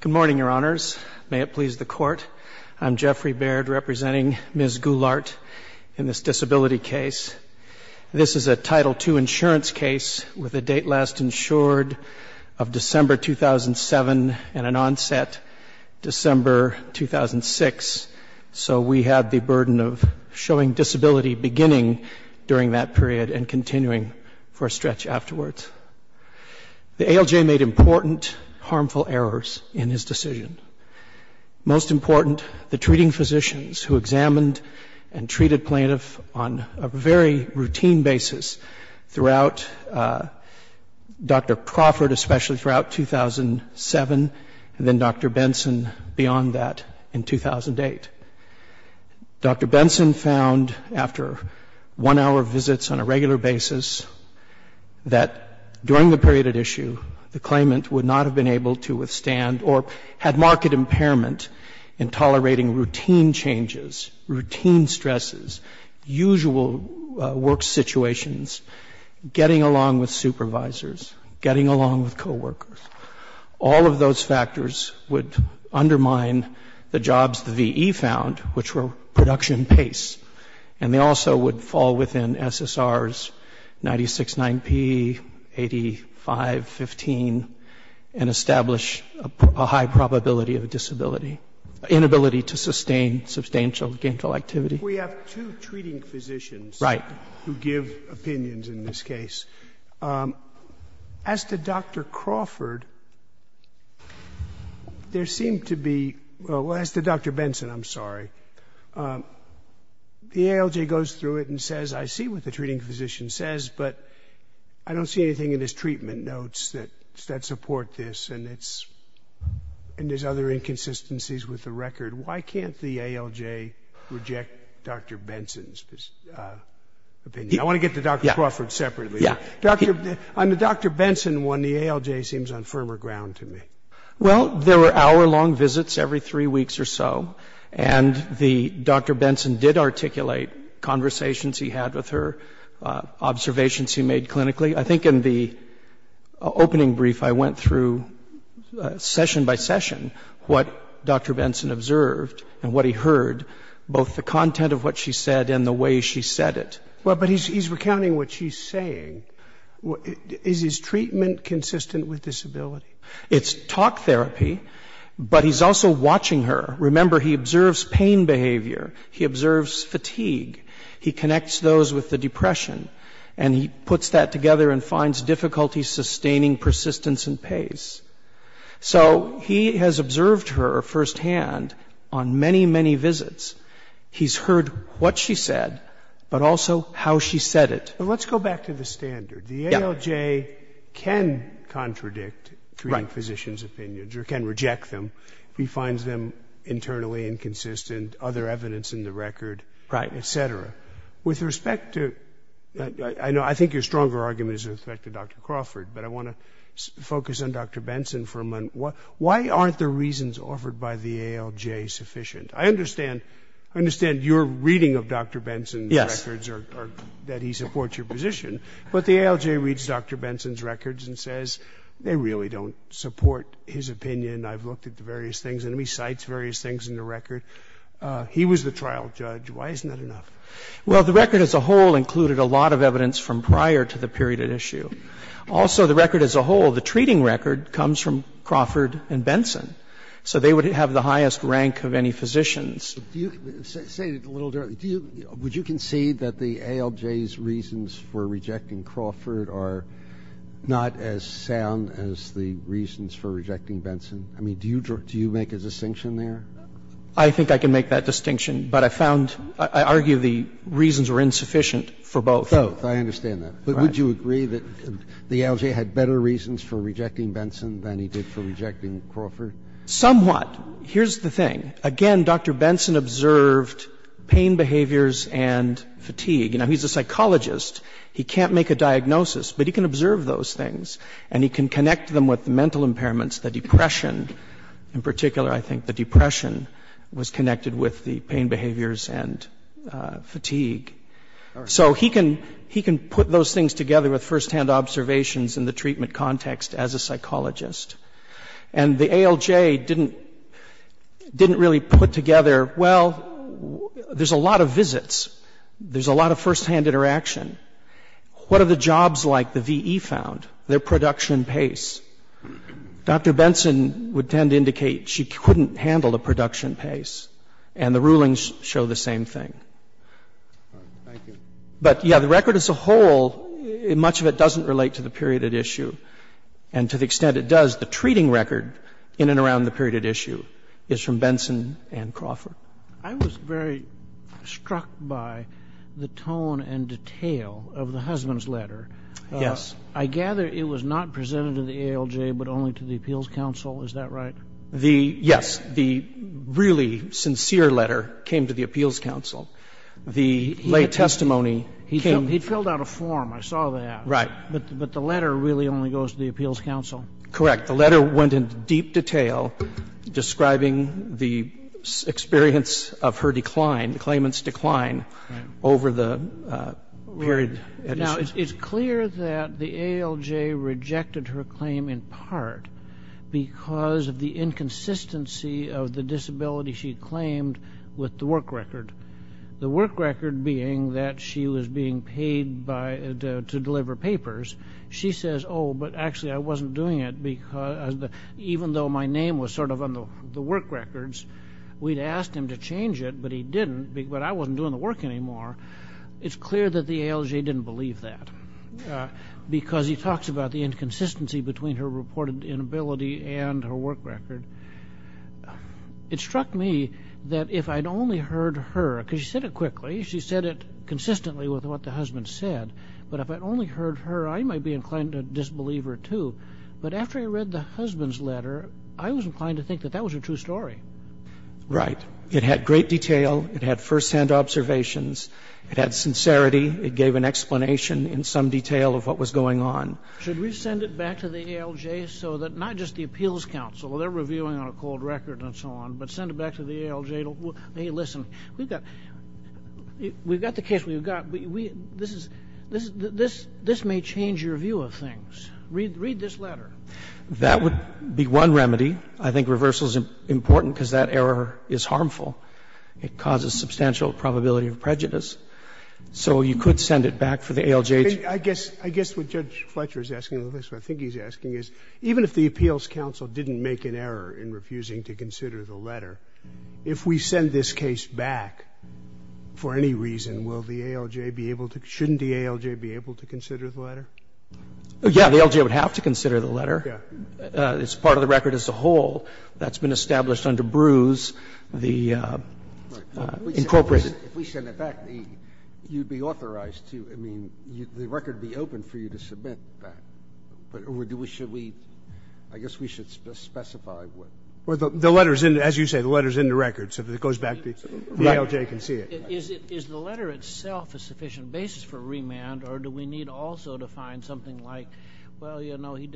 Good morning, Your Honors. May it please the Court, I'm Jeffrey Baird representing Ms. Goulart in this disability case. This is a Title II insurance case with a date last insured of December 2007 and an onset December 2006. So we have the burden of showing disability beginning during that period and continuing for a stretch afterwards. The ALJ made important harmful errors in his decision. Most important, the treating physicians who examined and treated plaintiff on a very routine basis throughout Dr. Crawford, especially throughout 2007, and then Dr. Benson beyond that in 2008. Dr. Benson found after one-hour visits on a regular basis that during the period at issue, the claimant would not have been able to withstand or had marked impairment in tolerating routine changes, routine stresses, usual work situations, getting along with supervisors, getting along with coworkers. All of those factors would undermine the jobs the V.E. found, which were production pace. And they also would fall within SSRs 969P, 85, 15, and establish a high probability of a disability, inability to sustain substantial gainful activity. We have two treating physicians who give opinions in this case. As to Dr. Crawford, there seemed to be – well, as to Dr. Benson, I'm sorry. The ALJ goes through it and says, I see what the treating physician says, but I don't see anything in his treatment notes that support this, and there's other inconsistencies with the record. Why can't the ALJ reject Dr. Benson's opinion? I want to get to Dr. Crawford separately. Yeah. On the Dr. Benson one, the ALJ seems on firmer ground to me. Well, there were hour-long visits every three weeks or so, and Dr. Benson did articulate conversations he had with her, observations he made clinically. I think in the opening brief I went through session by session what Dr. Benson observed and what he heard, both the content of what she said and the way she said it. Well, but he's recounting what she's saying. Is his treatment consistent with disability? It's talk therapy, but he's also watching her. Remember, he observes pain behavior. He observes fatigue. He connects those with the depression, and he puts that together and finds difficulty sustaining persistence and pace. So he has observed her firsthand on many, many visits. He's heard what she said, but also how she said it. But let's go back to the standard. The ALJ can contradict treating physicians' opinions or can reject them if he finds them internally inconsistent, other evidence in the record, et cetera. I think your stronger argument is with respect to Dr. Crawford, but I want to focus on Dr. Benson for a moment. Why aren't the reasons offered by the ALJ sufficient? I understand your reading of Dr. Benson's records or that he supports your position, but the ALJ reads Dr. Benson's records and says they really don't support his opinion. I've looked at the various things in them. He cites various things in the record. He was the trial judge. Why isn't that enough? Well, the record as a whole included a lot of evidence from prior to the period at issue. Also, the record as a whole, the treating record, comes from Crawford and Benson, so they would have the highest rank of any physicians. Say it a little directly. Would you concede that the ALJ's reasons for rejecting Crawford are not as sound as the reasons for rejecting Benson? I mean, do you make a distinction there? I think I can make that distinction, but I found, I argue the reasons were insufficient for both. Both. I understand that. But would you agree that the ALJ had better reasons for rejecting Benson than he did for rejecting Crawford? Somewhat. Here's the thing. Again, Dr. Benson observed pain behaviors and fatigue. Now, he's a psychologist. He can't make a diagnosis, but he can observe those things. And he can connect them with mental impairments, the depression. In particular, I think the depression was connected with the pain behaviors and fatigue. So he can put those things together with firsthand observations in the treatment context as a psychologist. And the ALJ didn't really put together, well, there's a lot of visits. There's a lot of firsthand interaction. What are the jobs like the VE found? Their production pace. Dr. Benson would tend to indicate she couldn't handle the production pace. And the rulings show the same thing. But, yeah, the record as a whole, much of it doesn't relate to the period at issue. And to the extent it does, the treating record in and around the period at issue is from Benson and Crawford. I was very struck by the tone and detail of the husband's letter. Yes. I gather it was not presented to the ALJ, but only to the Appeals Council. Is that right? The yes. The really sincere letter came to the Appeals Council. The late testimony came. He filled out a form. I saw that. Right. But the letter really only goes to the Appeals Council. Correct. The letter went into deep detail describing the experience of her decline, the claimant's decline over the period at issue. It's clear that the ALJ rejected her claim in part because of the inconsistency of the disability she claimed with the work record, the work record being that she was being paid to deliver papers. She says, oh, but actually I wasn't doing it because even though my name was sort of on the work records, we'd asked him to change it, but he didn't, but I wasn't doing the work anymore. It's clear that the ALJ didn't believe that because he talks about the inconsistency between her reported inability and her work record. It struck me that if I'd only heard her, because she said it quickly, she said it consistently with what the husband said, but if I'd only heard her, I might be inclined to disbelieve her too, but after I read the husband's letter, I was inclined to think that that was a true story. Right. It had great detail. It had firsthand observations. It had sincerity. It gave an explanation in some detail of what was going on. Should we send it back to the ALJ so that not just the appeals counsel, they're reviewing on a cold record and so on, but send it back to the ALJ, hey, listen, we've got the case we've got. This may change your view of things. Read this letter. That would be one remedy. I think reversal is important because that error is harmful. It causes substantial probability of prejudice. So you could send it back for the ALJ. Scalia. I guess what Judge Fletcher is asking, at least what I think he's asking, is even if the appeals counsel didn't make an error in refusing to consider the letter, if we send this case back for any reason, will the ALJ be able to, shouldn't the ALJ be able to consider the letter? Yeah, the ALJ would have to consider the letter. It's part of the record as a whole. That's been established under Bruce, the incorporation. If we send it back, you'd be authorized to, I mean, the record would be open for you to submit that. Or do we, should we, I guess we should specify what. Well, the letter is in, as you say, the letter is in the record. So if it goes back, the ALJ can see it. Is the letter itself a sufficient basis for remand? Or do we need also to find something like, well, you know, the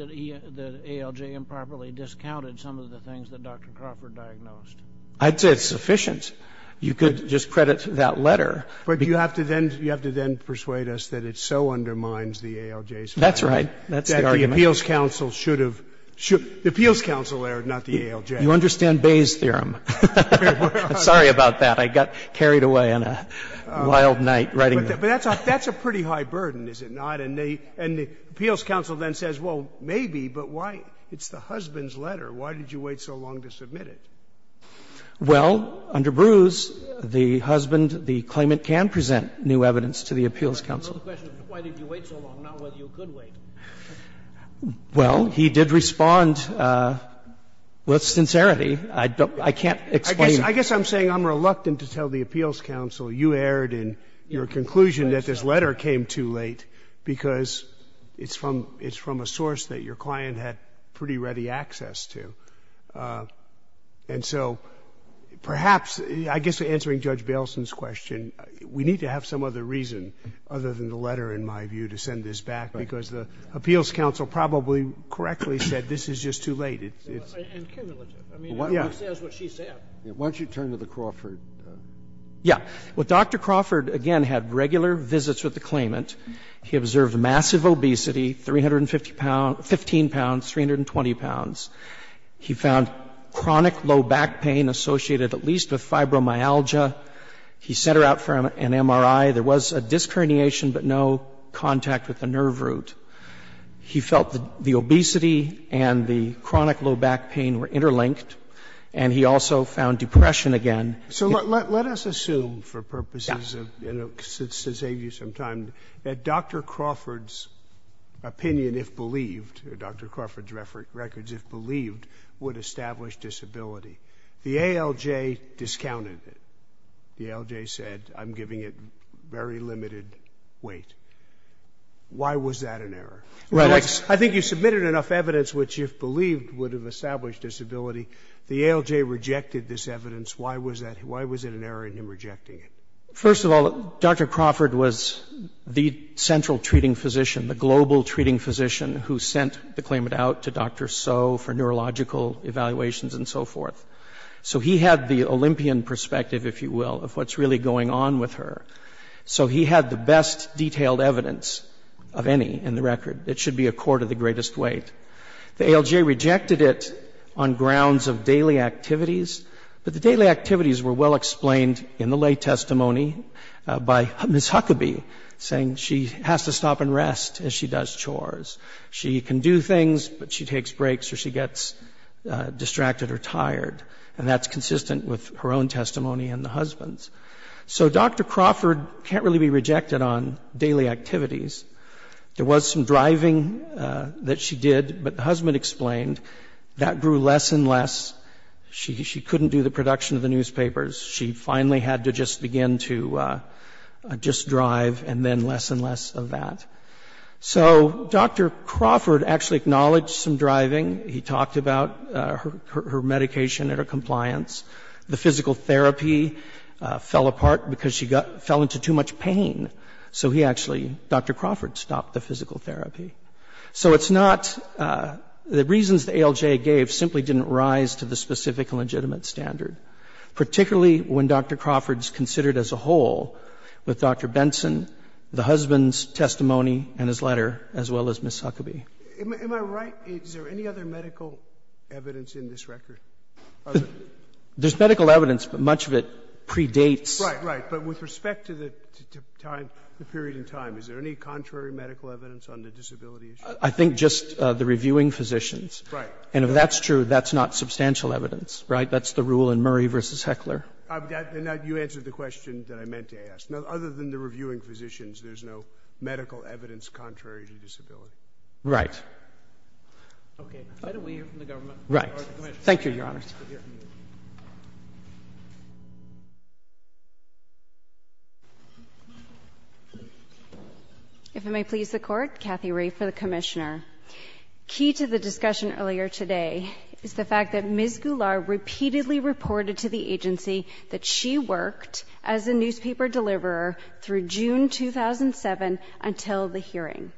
ALJ improperly discounted some of the things that Dr. Crawford diagnosed? I'd say it's sufficient. You could just credit that letter. But you have to then, you have to then persuade us that it so undermines the ALJ's findings. That's right. That's the argument. That the appeals counsel should have, the appeals counsel erred, not the ALJ. You understand Bayes' theorem. I'm sorry about that. I got carried away on a wild night writing that. But that's a pretty high burden, is it not? And the appeals counsel then says, well, maybe, but why? It's the husband's letter. Why did you wait so long to submit it? Well, under Bruce, the husband, the claimant can present new evidence to the appeals counsel. I know the question. Why did you wait so long? Not whether you could wait. Well, he did respond with sincerity. I can't explain it. I guess I'm saying I'm reluctant to tell the appeals counsel you erred in your conclusion that this letter came too late because it's from a source that your client had pretty ready access to. And so perhaps, I guess answering Judge Bailson's question, we need to have some other reason other than the letter, in my view, to send this back, because the appeals counsel probably correctly said this is just too late. And cumulative. I mean, it says what she said. Why don't you turn to the Crawford? Yeah. Well, Dr. Crawford, again, had regular visits with the claimant. He observed massive obesity, 315 pounds, 320 pounds. He found chronic low back pain associated at least with fibromyalgia. He sent her out for an MRI. There was a disc herniation, but no contact with the nerve root. He felt the obesity and the chronic low back pain were interlinked, and he also found depression again. So let us assume for purposes of, you know, to save you some time, that Dr. Crawford's opinion, if believed, Dr. Crawford's records, if believed, would establish disability. The ALJ discounted it. The ALJ said, I'm giving it very limited weight. Why was that an error? I think you submitted enough evidence which, if believed, would have established disability. The ALJ rejected this evidence. Why was that? Why was it an error in him rejecting it? First of all, Dr. Crawford was the central treating physician, the global treating physician, who sent the claimant out to Dr. So for neurological evaluations and so forth. So he had the Olympian perspective, if you will, of what's really going on with her. So he had the best detailed evidence of any in the record. It should be a court of the greatest weight. The ALJ rejected it on grounds of daily activities, but the daily activities were well explained in the lay testimony by Ms. Huckabee, saying she has to stop and rest as she does chores. She can do things, but she takes breaks or she gets distracted or tired, and that's consistent with her own testimony and the husband's. So Dr. Crawford can't really be rejected on daily activities. There was some driving that she did, but the husband explained that grew less and less. She couldn't do the production of the newspapers. She finally had to just begin to just drive and then less and less of that. So Dr. Crawford actually acknowledged some driving. He talked about her medication and her compliance. The physical therapy fell apart because she fell into too much pain. So he actually, Dr. Crawford, stopped the physical therapy. So it's not the reasons the ALJ gave simply didn't rise to the specific legitimate standard, particularly when Dr. Crawford's considered as a whole with Dr. Benson, the husband's testimony, and his letter, as well as Ms. Huckabee. Am I right? Is there any other medical evidence in this record? There's medical evidence, but much of it predates. Right, right. But with respect to the time, the period in time, is there any contrary medical evidence on the disability issue? I think just the reviewing physicians. Right. And if that's true, that's not substantial evidence, right? That's the rule in Murray v. Heckler. You answered the question that I meant to ask. Now, other than the reviewing physicians, there's no medical evidence contrary to disability. Right. Okay. Right away from the government. Right. Thank you, Your Honor. If it may please the Court, Kathy Rae for the Commissioner. Key to the discussion earlier today is the fact that Ms. Goulart repeatedly reported to the agency that she worked as a newspaper deliverer through June 2007 until the hearing.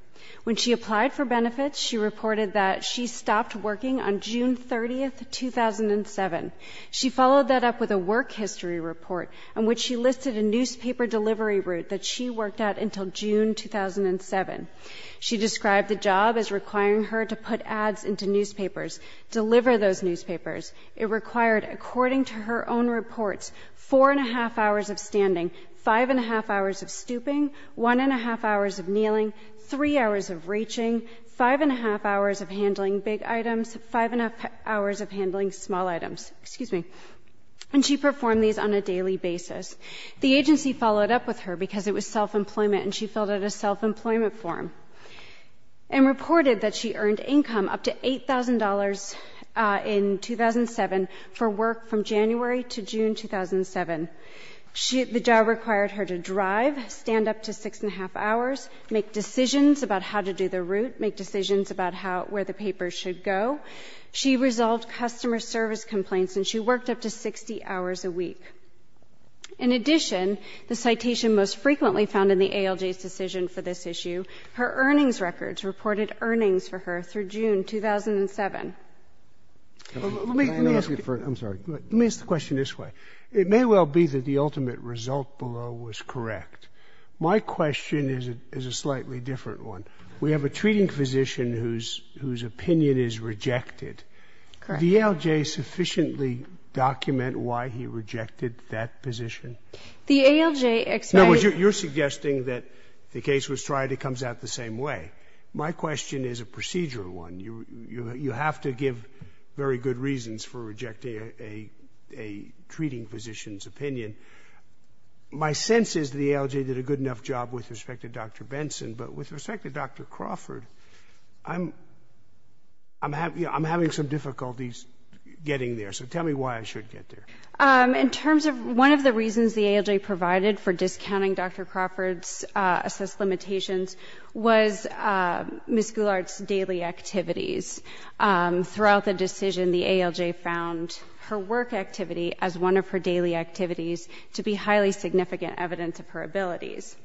When she applied for benefits, she reported that she stopped working on June 30, 2007. She followed that up with a work history report in which she listed a newspaper delivery route that she worked at until June 2007. She described the job as requiring her to put ads into newspapers, deliver those newspapers. It required, according to her own reports, 4 1⁄2 hours of standing, 5 1⁄2 hours of stooping, 1 1⁄2 hours of kneeling, 3 hours of reaching, 5 1⁄2 hours of handling small items. Excuse me. And she performed these on a daily basis. The agency followed up with her because it was self-employment and she filled out a self-employment form and reported that she earned income up to $8,000 in 2007 for work from January to June 2007. The job required her to drive, stand up to 6 1⁄2 hours, make decisions about how to do the route, make decisions about where the papers should go. She resolved customer service complaints and she worked up to 60 hours a week. In addition, the citation most frequently found in the ALJ's decision for this issue, her earnings records reported earnings for her through June 2007. Let me ask you first. I'm sorry. Let me ask the question this way. It may well be that the ultimate result below was correct. My question is a slightly different one. We have a treating physician whose opinion is rejected. Did the ALJ sufficiently document why he rejected that position? The ALJ explained. No, you're suggesting that the case was tried, it comes out the same way. My question is a procedural one. You have to give very good reasons for rejecting a treating physician's opinion. My sense is the ALJ did a good enough job with respect to Dr. Benson, but with respect to Dr. Crawford, I'm having some difficulties getting there. So tell me why I should get there. In terms of one of the reasons the ALJ provided for discounting Dr. Crawford's assessed limitations was Ms. Goulart's daily activities. Throughout the decision, the ALJ found her work activity as one of her daily activities to be highly significant evidence of her abilities.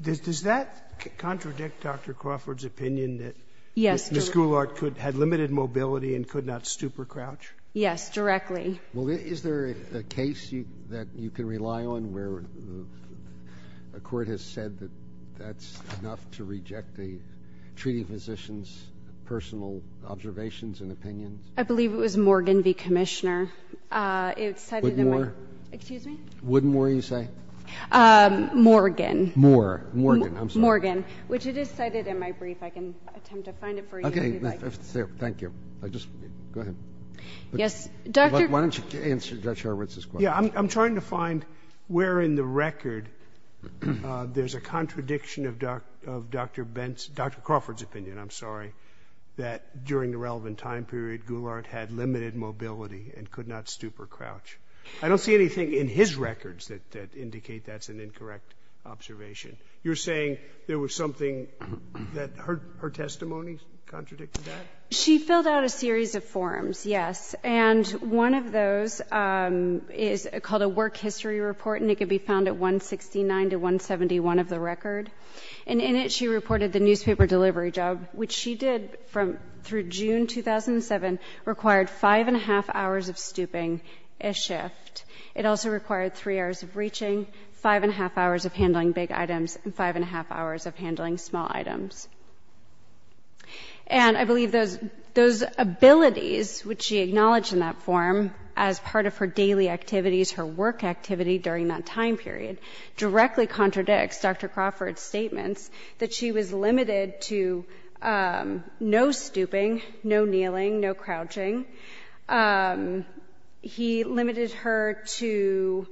Does that contradict Dr. Crawford's opinion that Ms. Goulart had limited mobility and could not stupor crouch? Yes, directly. Well, is there a case that you can rely on where a court has said that that's enough to reject the treating physician's personal observations and opinions? I believe it was Morgan v. Commissioner. Woodmore? Excuse me? Woodmore, you say? Morgan. Morgan, I'm sorry. Morgan, which it is cited in my brief. I can attempt to find it for you if you'd like. Okay. Thank you. Just go ahead. Yes, Dr. Why don't you answer Judge Hurwitz's question? Yeah, I'm trying to find where in the record there's a contradiction of Dr. Benson Dr. Crawford's opinion, I'm sorry, that during the relevant time period, Goulart had limited mobility and could not stupor crouch. I don't see anything in his records that indicate that's an incorrect observation. You're saying there was something that her testimony contradicted that? She filled out a series of forms, yes, and one of those is called a work history report, and it can be found at 169 to 171 of the record. And in it, she reported the newspaper delivery job, which she did through June 2007, required five-and-a-half hours of stooping a shift. It also required three hours of reaching, five-and-a-half hours of handling big items, and five-and-a-half hours of handling small items. And I believe those abilities which she acknowledged in that form as part of her daily activities, her work activity during that time period, directly contradicts Dr. Crawford's statements that she was limited to no stooping, no kneeling, no crouching. He limited her to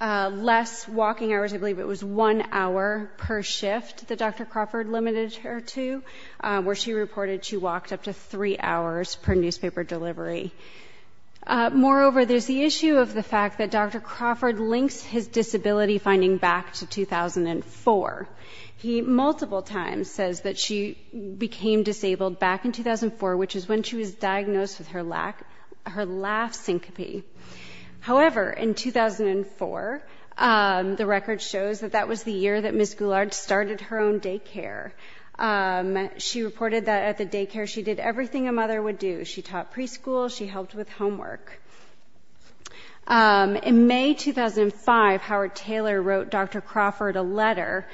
less walking hours. I believe it was one hour per shift that Dr. Crawford limited her to, where she reported she walked up to three hours per newspaper delivery. Moreover, there's the issue of the fact that Dr. Crawford links his disability finding back to 2004. He multiple times says that she became disabled back in 2004, which is when she was diagnosed with her laugh syncope. However, in 2004, the record shows that that was the year that Ms. Goulart started her own daycare. She reported that at the daycare, she did everything a mother would do. She taught preschool. She helped with homework. In May 2005, Howard Taylor wrote Dr. Crawford a letter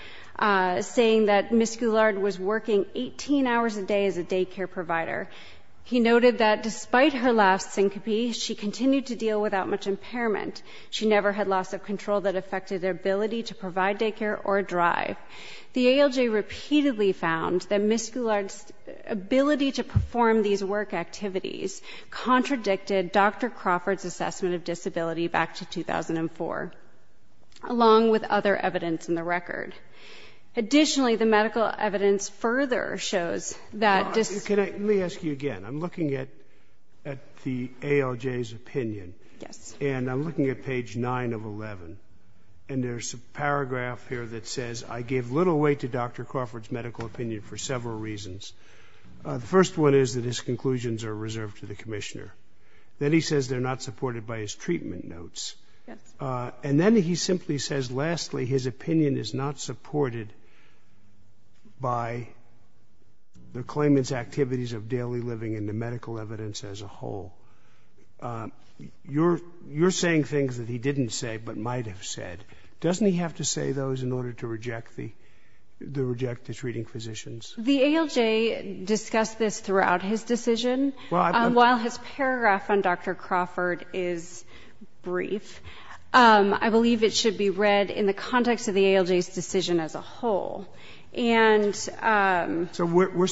saying that Ms. Goulart was working 18 hours a day as a daycare provider. He noted that despite her laugh syncope, she continued to deal without much impairment. She never had loss of control that affected her ability to provide daycare or drive. The ALJ repeatedly found that Ms. Goulart's ability to perform these work activities contradicted Dr. Crawford's assessment of disability back to 2004, along with other evidence in the record. Additionally, the medical evidence further shows that this ---- Let me ask you again. I'm looking at the ALJ's opinion. Yes. And I'm looking at page 9 of 11, and there's a paragraph here that says, I gave little weight to Dr. Crawford's medical opinion for several reasons. The first one is that his conclusions are reserved to the commissioner. Then he says they're not supported by his treatment notes. Yes. And then he simply says, lastly, his opinion is not supported by the claimant's activities of daily living and the medical evidence as a whole. You're saying things that he didn't say but might have said. Doesn't he have to say those in order to reject the treating physicians? The ALJ discussed this throughout his decision. While his paragraph on Dr. Crawford is brief, I believe it should be read in the context of the ALJ's decision as a whole. And ---- So we're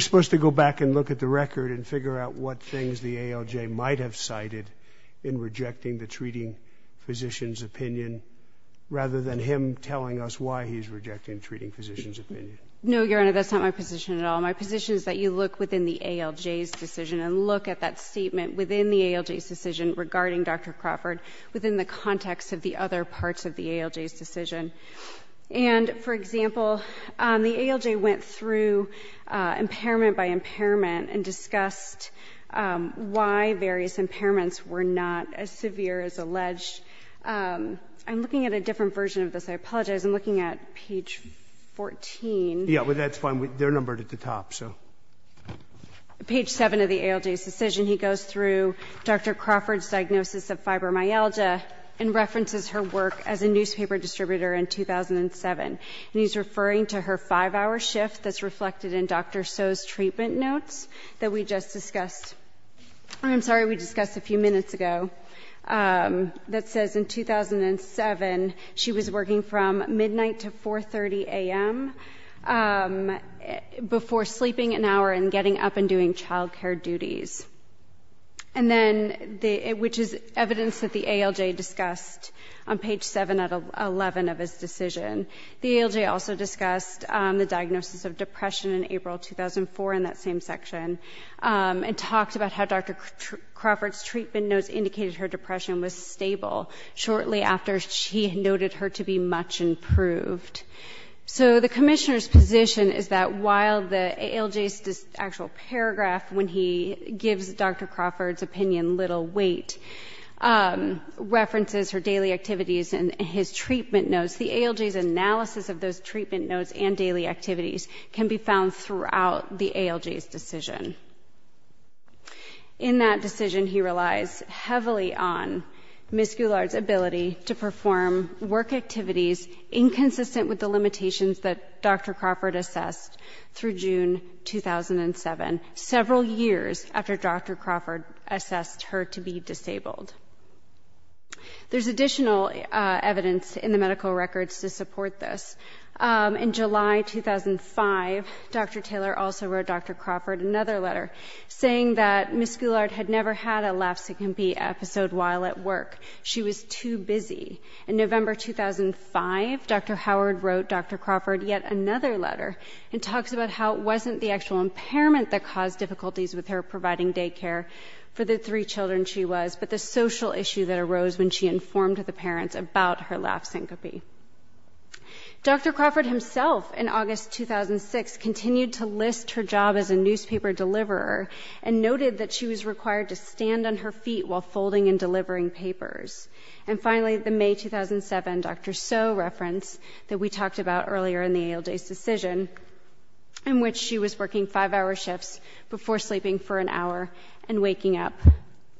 supposed to go back and look at the record and figure out what things the ALJ might have cited in rejecting the treating physician's opinion, rather than him telling us why he's rejecting the treating physician's opinion. No, Your Honor, that's not my position at all. My position is that you look within the ALJ's decision and look at that statement within the ALJ's decision regarding Dr. Crawford within the context of the other parts of the ALJ's decision. And, for example, the ALJ went through impairment by impairment and discussed why various impairments were not as severe as alleged. I'm looking at a different version of this. I apologize. I'm looking at page 14. Yeah, but that's fine. They're numbered at the top, so. Page 7 of the ALJ's decision, he goes through Dr. Crawford's diagnosis of fibromyalgia and references her work as a newspaper distributor in 2007. And he's referring to her 5-hour shift that's reflected in Dr. So's treatment notes that we just discussed. I'm sorry, we discussed a few minutes ago, that says in 2007, she was working from midnight to 4.30 a.m. before sleeping an hour and getting up and doing child care duties, which is evidence that the ALJ discussed on page 7 of 11 of his decision. The ALJ also discussed the diagnosis of depression in April 2004 in that same section and talked about how Dr. Crawford's treatment notes indicated her depression was stable shortly after she noted her to be much improved. So the commissioner's position is that while the ALJ's actual paragraph, when he gives Dr. Crawford's opinion little weight, references her daily activities and his treatment notes, the ALJ's analysis of those treatment notes and daily activities can be found throughout the ALJ's decision. In that decision, he relies heavily on Ms. Goulard's ability to perform work activities inconsistent with the limitations that Dr. Crawford assessed through June 2007, several years after Dr. Crawford assessed her to be disabled. There's additional evidence in the medical records to support this. In July 2005, Dr. Taylor also wrote Dr. Crawford another letter saying that Ms. Goulard had never had a lapsing B episode while at work. She was too busy. In November 2005, Dr. Howard wrote Dr. Crawford yet another letter and talks about how it wasn't the actual impairment that caused difficulties with her providing daycare for the three children she was, but the social issue that arose when she informed the parents about her lapsing B. Dr. Crawford himself, in August 2006, continued to list her job as a newspaper deliverer and noted that she was required to stand on her feet while folding and delivering papers. And finally, the May 2007 Dr. Soe reference that we talked about earlier in the ALJ's decision, in which she was working five-hour shifts before sleeping for an hour and waking up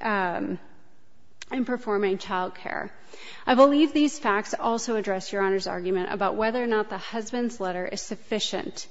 and performing childcare. I believe these facts also address Your Honor's argument about whether or not the husband's letter is sufficient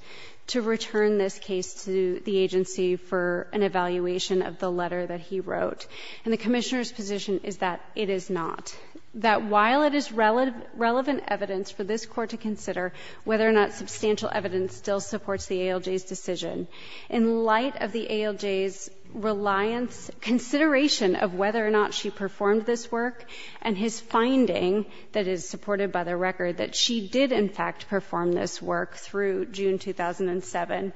to return this case to the agency for an evaluation of the letter that he wrote. And the Commissioner's position is that it is not. That while it is relevant evidence for this Court to consider whether or not substantial evidence still supports the ALJ's decision, in light of the ALJ's reliance, consideration of whether or not she performed this work and his finding that is supported by the record that she did, in fact, perform this work through June 2007,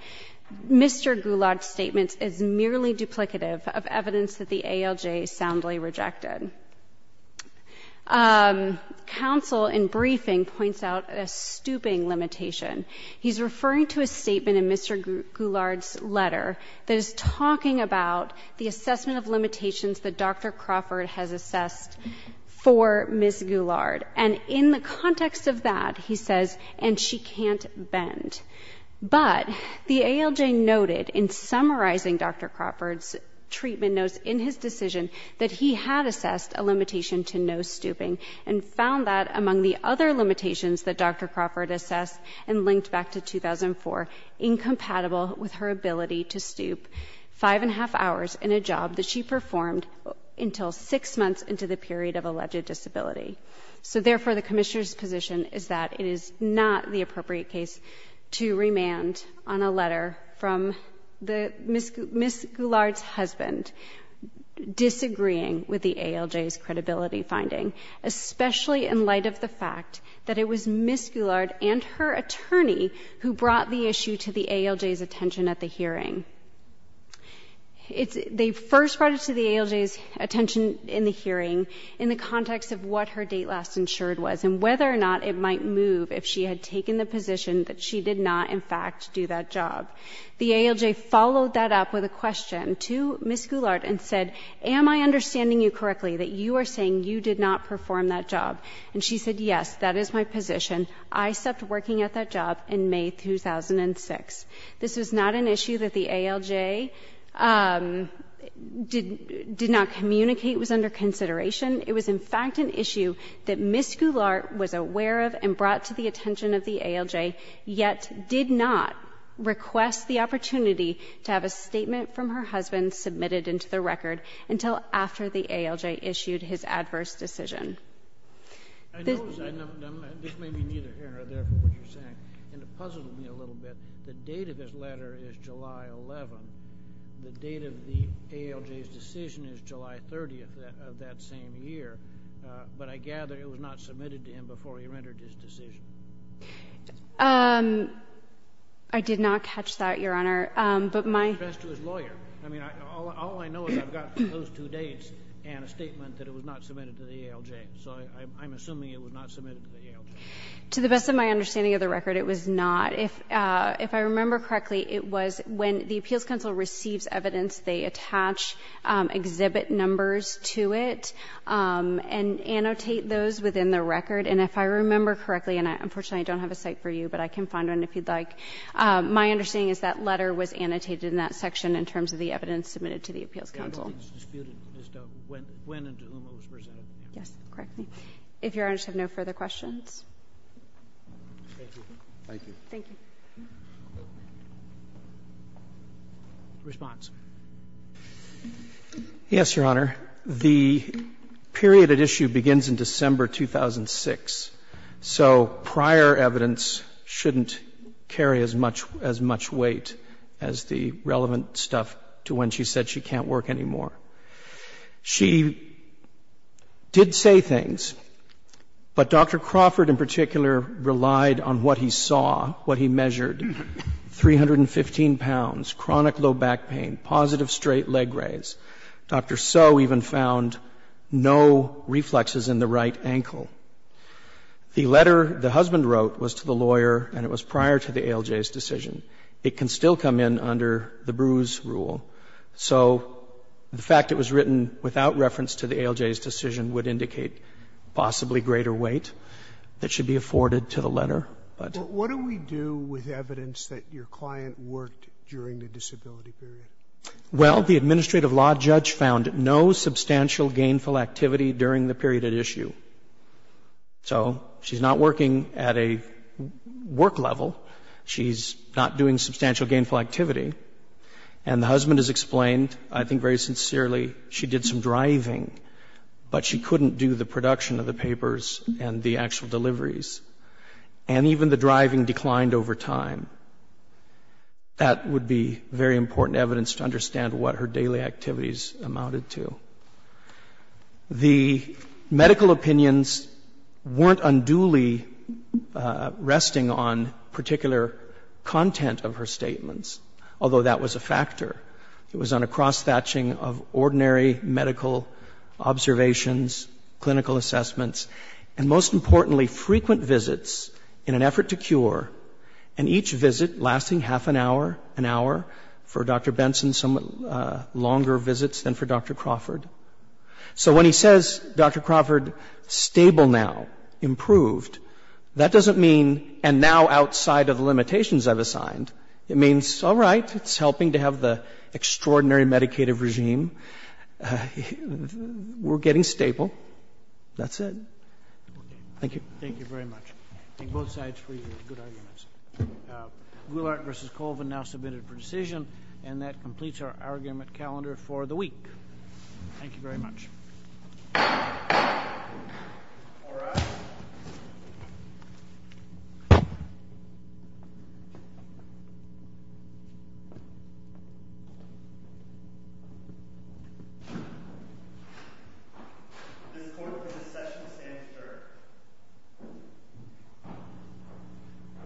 Mr. Gulag's statement is merely duplicative of evidence that the ALJ soundly rejected. Counsel in briefing points out a stooping limitation. He's referring to a statement in Mr. Gulag's letter that is talking about the assessment of limitations that Dr. Crawford has assessed for Ms. Gulag. And in the context of that, he says, and she can't bend. But the ALJ noted in summarizing Dr. Crawford's treatment notes in his decision that he had assessed a limitation to no stooping and found that, among the other limitations that Dr. Crawford assessed and linked back to 2004, incompatible with her ability to stoop five and a half hours in a job that she performed until six months into the period of alleged disability. So therefore, the Commissioner's position is that it is not the appropriate case to remand on a letter from Ms. Gulag's husband disagreeing with the ALJ's credibility finding, especially in light of the fact that it was Ms. Gulag and her attorney who brought the issue to the ALJ's attention at the hearing. They first brought it to the ALJ's attention in the hearing in the context of what her date last insured was and whether or not it might move if she had taken the position that she did not, in fact, do that job. The ALJ followed that up with a question to Ms. Gulag and said, am I understanding you correctly that you are saying you did not perform that job? And she said, yes, that is my position. I stopped working at that job in May 2006. This was not an issue that the ALJ did not communicate was under consideration. It was, in fact, an issue that Ms. Gulag was aware of and brought to the attention of the ALJ, yet did not request the opportunity to have a statement from her husband submitted into the record until after the ALJ issued his adverse decision. I know this may be neither here nor there from what you're saying, and it puzzled me a little bit. The date of this letter is July 11. The date of the ALJ's decision is July 30 of that same year. But I gather it was not submitted to him before he rendered his decision. I did not catch that, Your Honor. But my— So I'm assuming it was not submitted to the ALJ. To the best of my understanding of the record, it was not. If I remember correctly, it was when the Appeals Council receives evidence, they attach exhibit numbers to it and annotate those within the record. And if I remember correctly, and unfortunately I don't have a cite for you, but I can find one if you'd like, my understanding is that letter was annotated in that section in terms of the evidence submitted to the Appeals Council. When and to whom it was presented. Yes, correctly. If Your Honor has no further questions. Thank you. Thank you. Response. Yes, Your Honor. The period at issue begins in December 2006. So prior evidence shouldn't carry as much weight as the relevant stuff to when she said she can't work anymore. She did say things, but Dr. Crawford in particular relied on what he saw, what he measured, 315 pounds, chronic low back pain, positive straight leg raise. Dr. Soe even found no reflexes in the right ankle. The letter the husband wrote was to the lawyer and it was prior to the ALJ's decision. It can still come in under the bruise rule. So the fact it was written without reference to the ALJ's decision would indicate possibly greater weight that should be afforded to the letter. But what do we do with evidence that your client worked during the disability period? Well, the administrative law judge found no substantial gainful activity during the period at issue. So she's not working at a work level. She's not doing substantial gainful activity. And the husband has explained, I think very sincerely, she did some driving, but she couldn't do the production of the papers and the actual deliveries. And even the driving declined over time. That would be very important evidence to understand what her daily activities amounted to. The medical opinions weren't unduly resting on particular content of her statements. Although that was a factor. It was on a cross-thatching of ordinary medical observations, clinical assessments, and most importantly, frequent visits in an effort to cure. And each visit lasting half an hour, an hour, for Dr. Benson's somewhat longer visits than for Dr. Crawford. So when he says, Dr. Crawford, stable now, improved, that doesn't mean and now outside of the limitations I've assigned. It means, all right, it's helping to have the extraordinary meditative regime. We're getting stable. That's it. Thank you. Thank you very much. I think both sides for your good arguments. Goulart v. Colvin now submitted for decision. And that completes our argument calendar for the week. Thank you very much. All rise. This court for the session stands adjourned.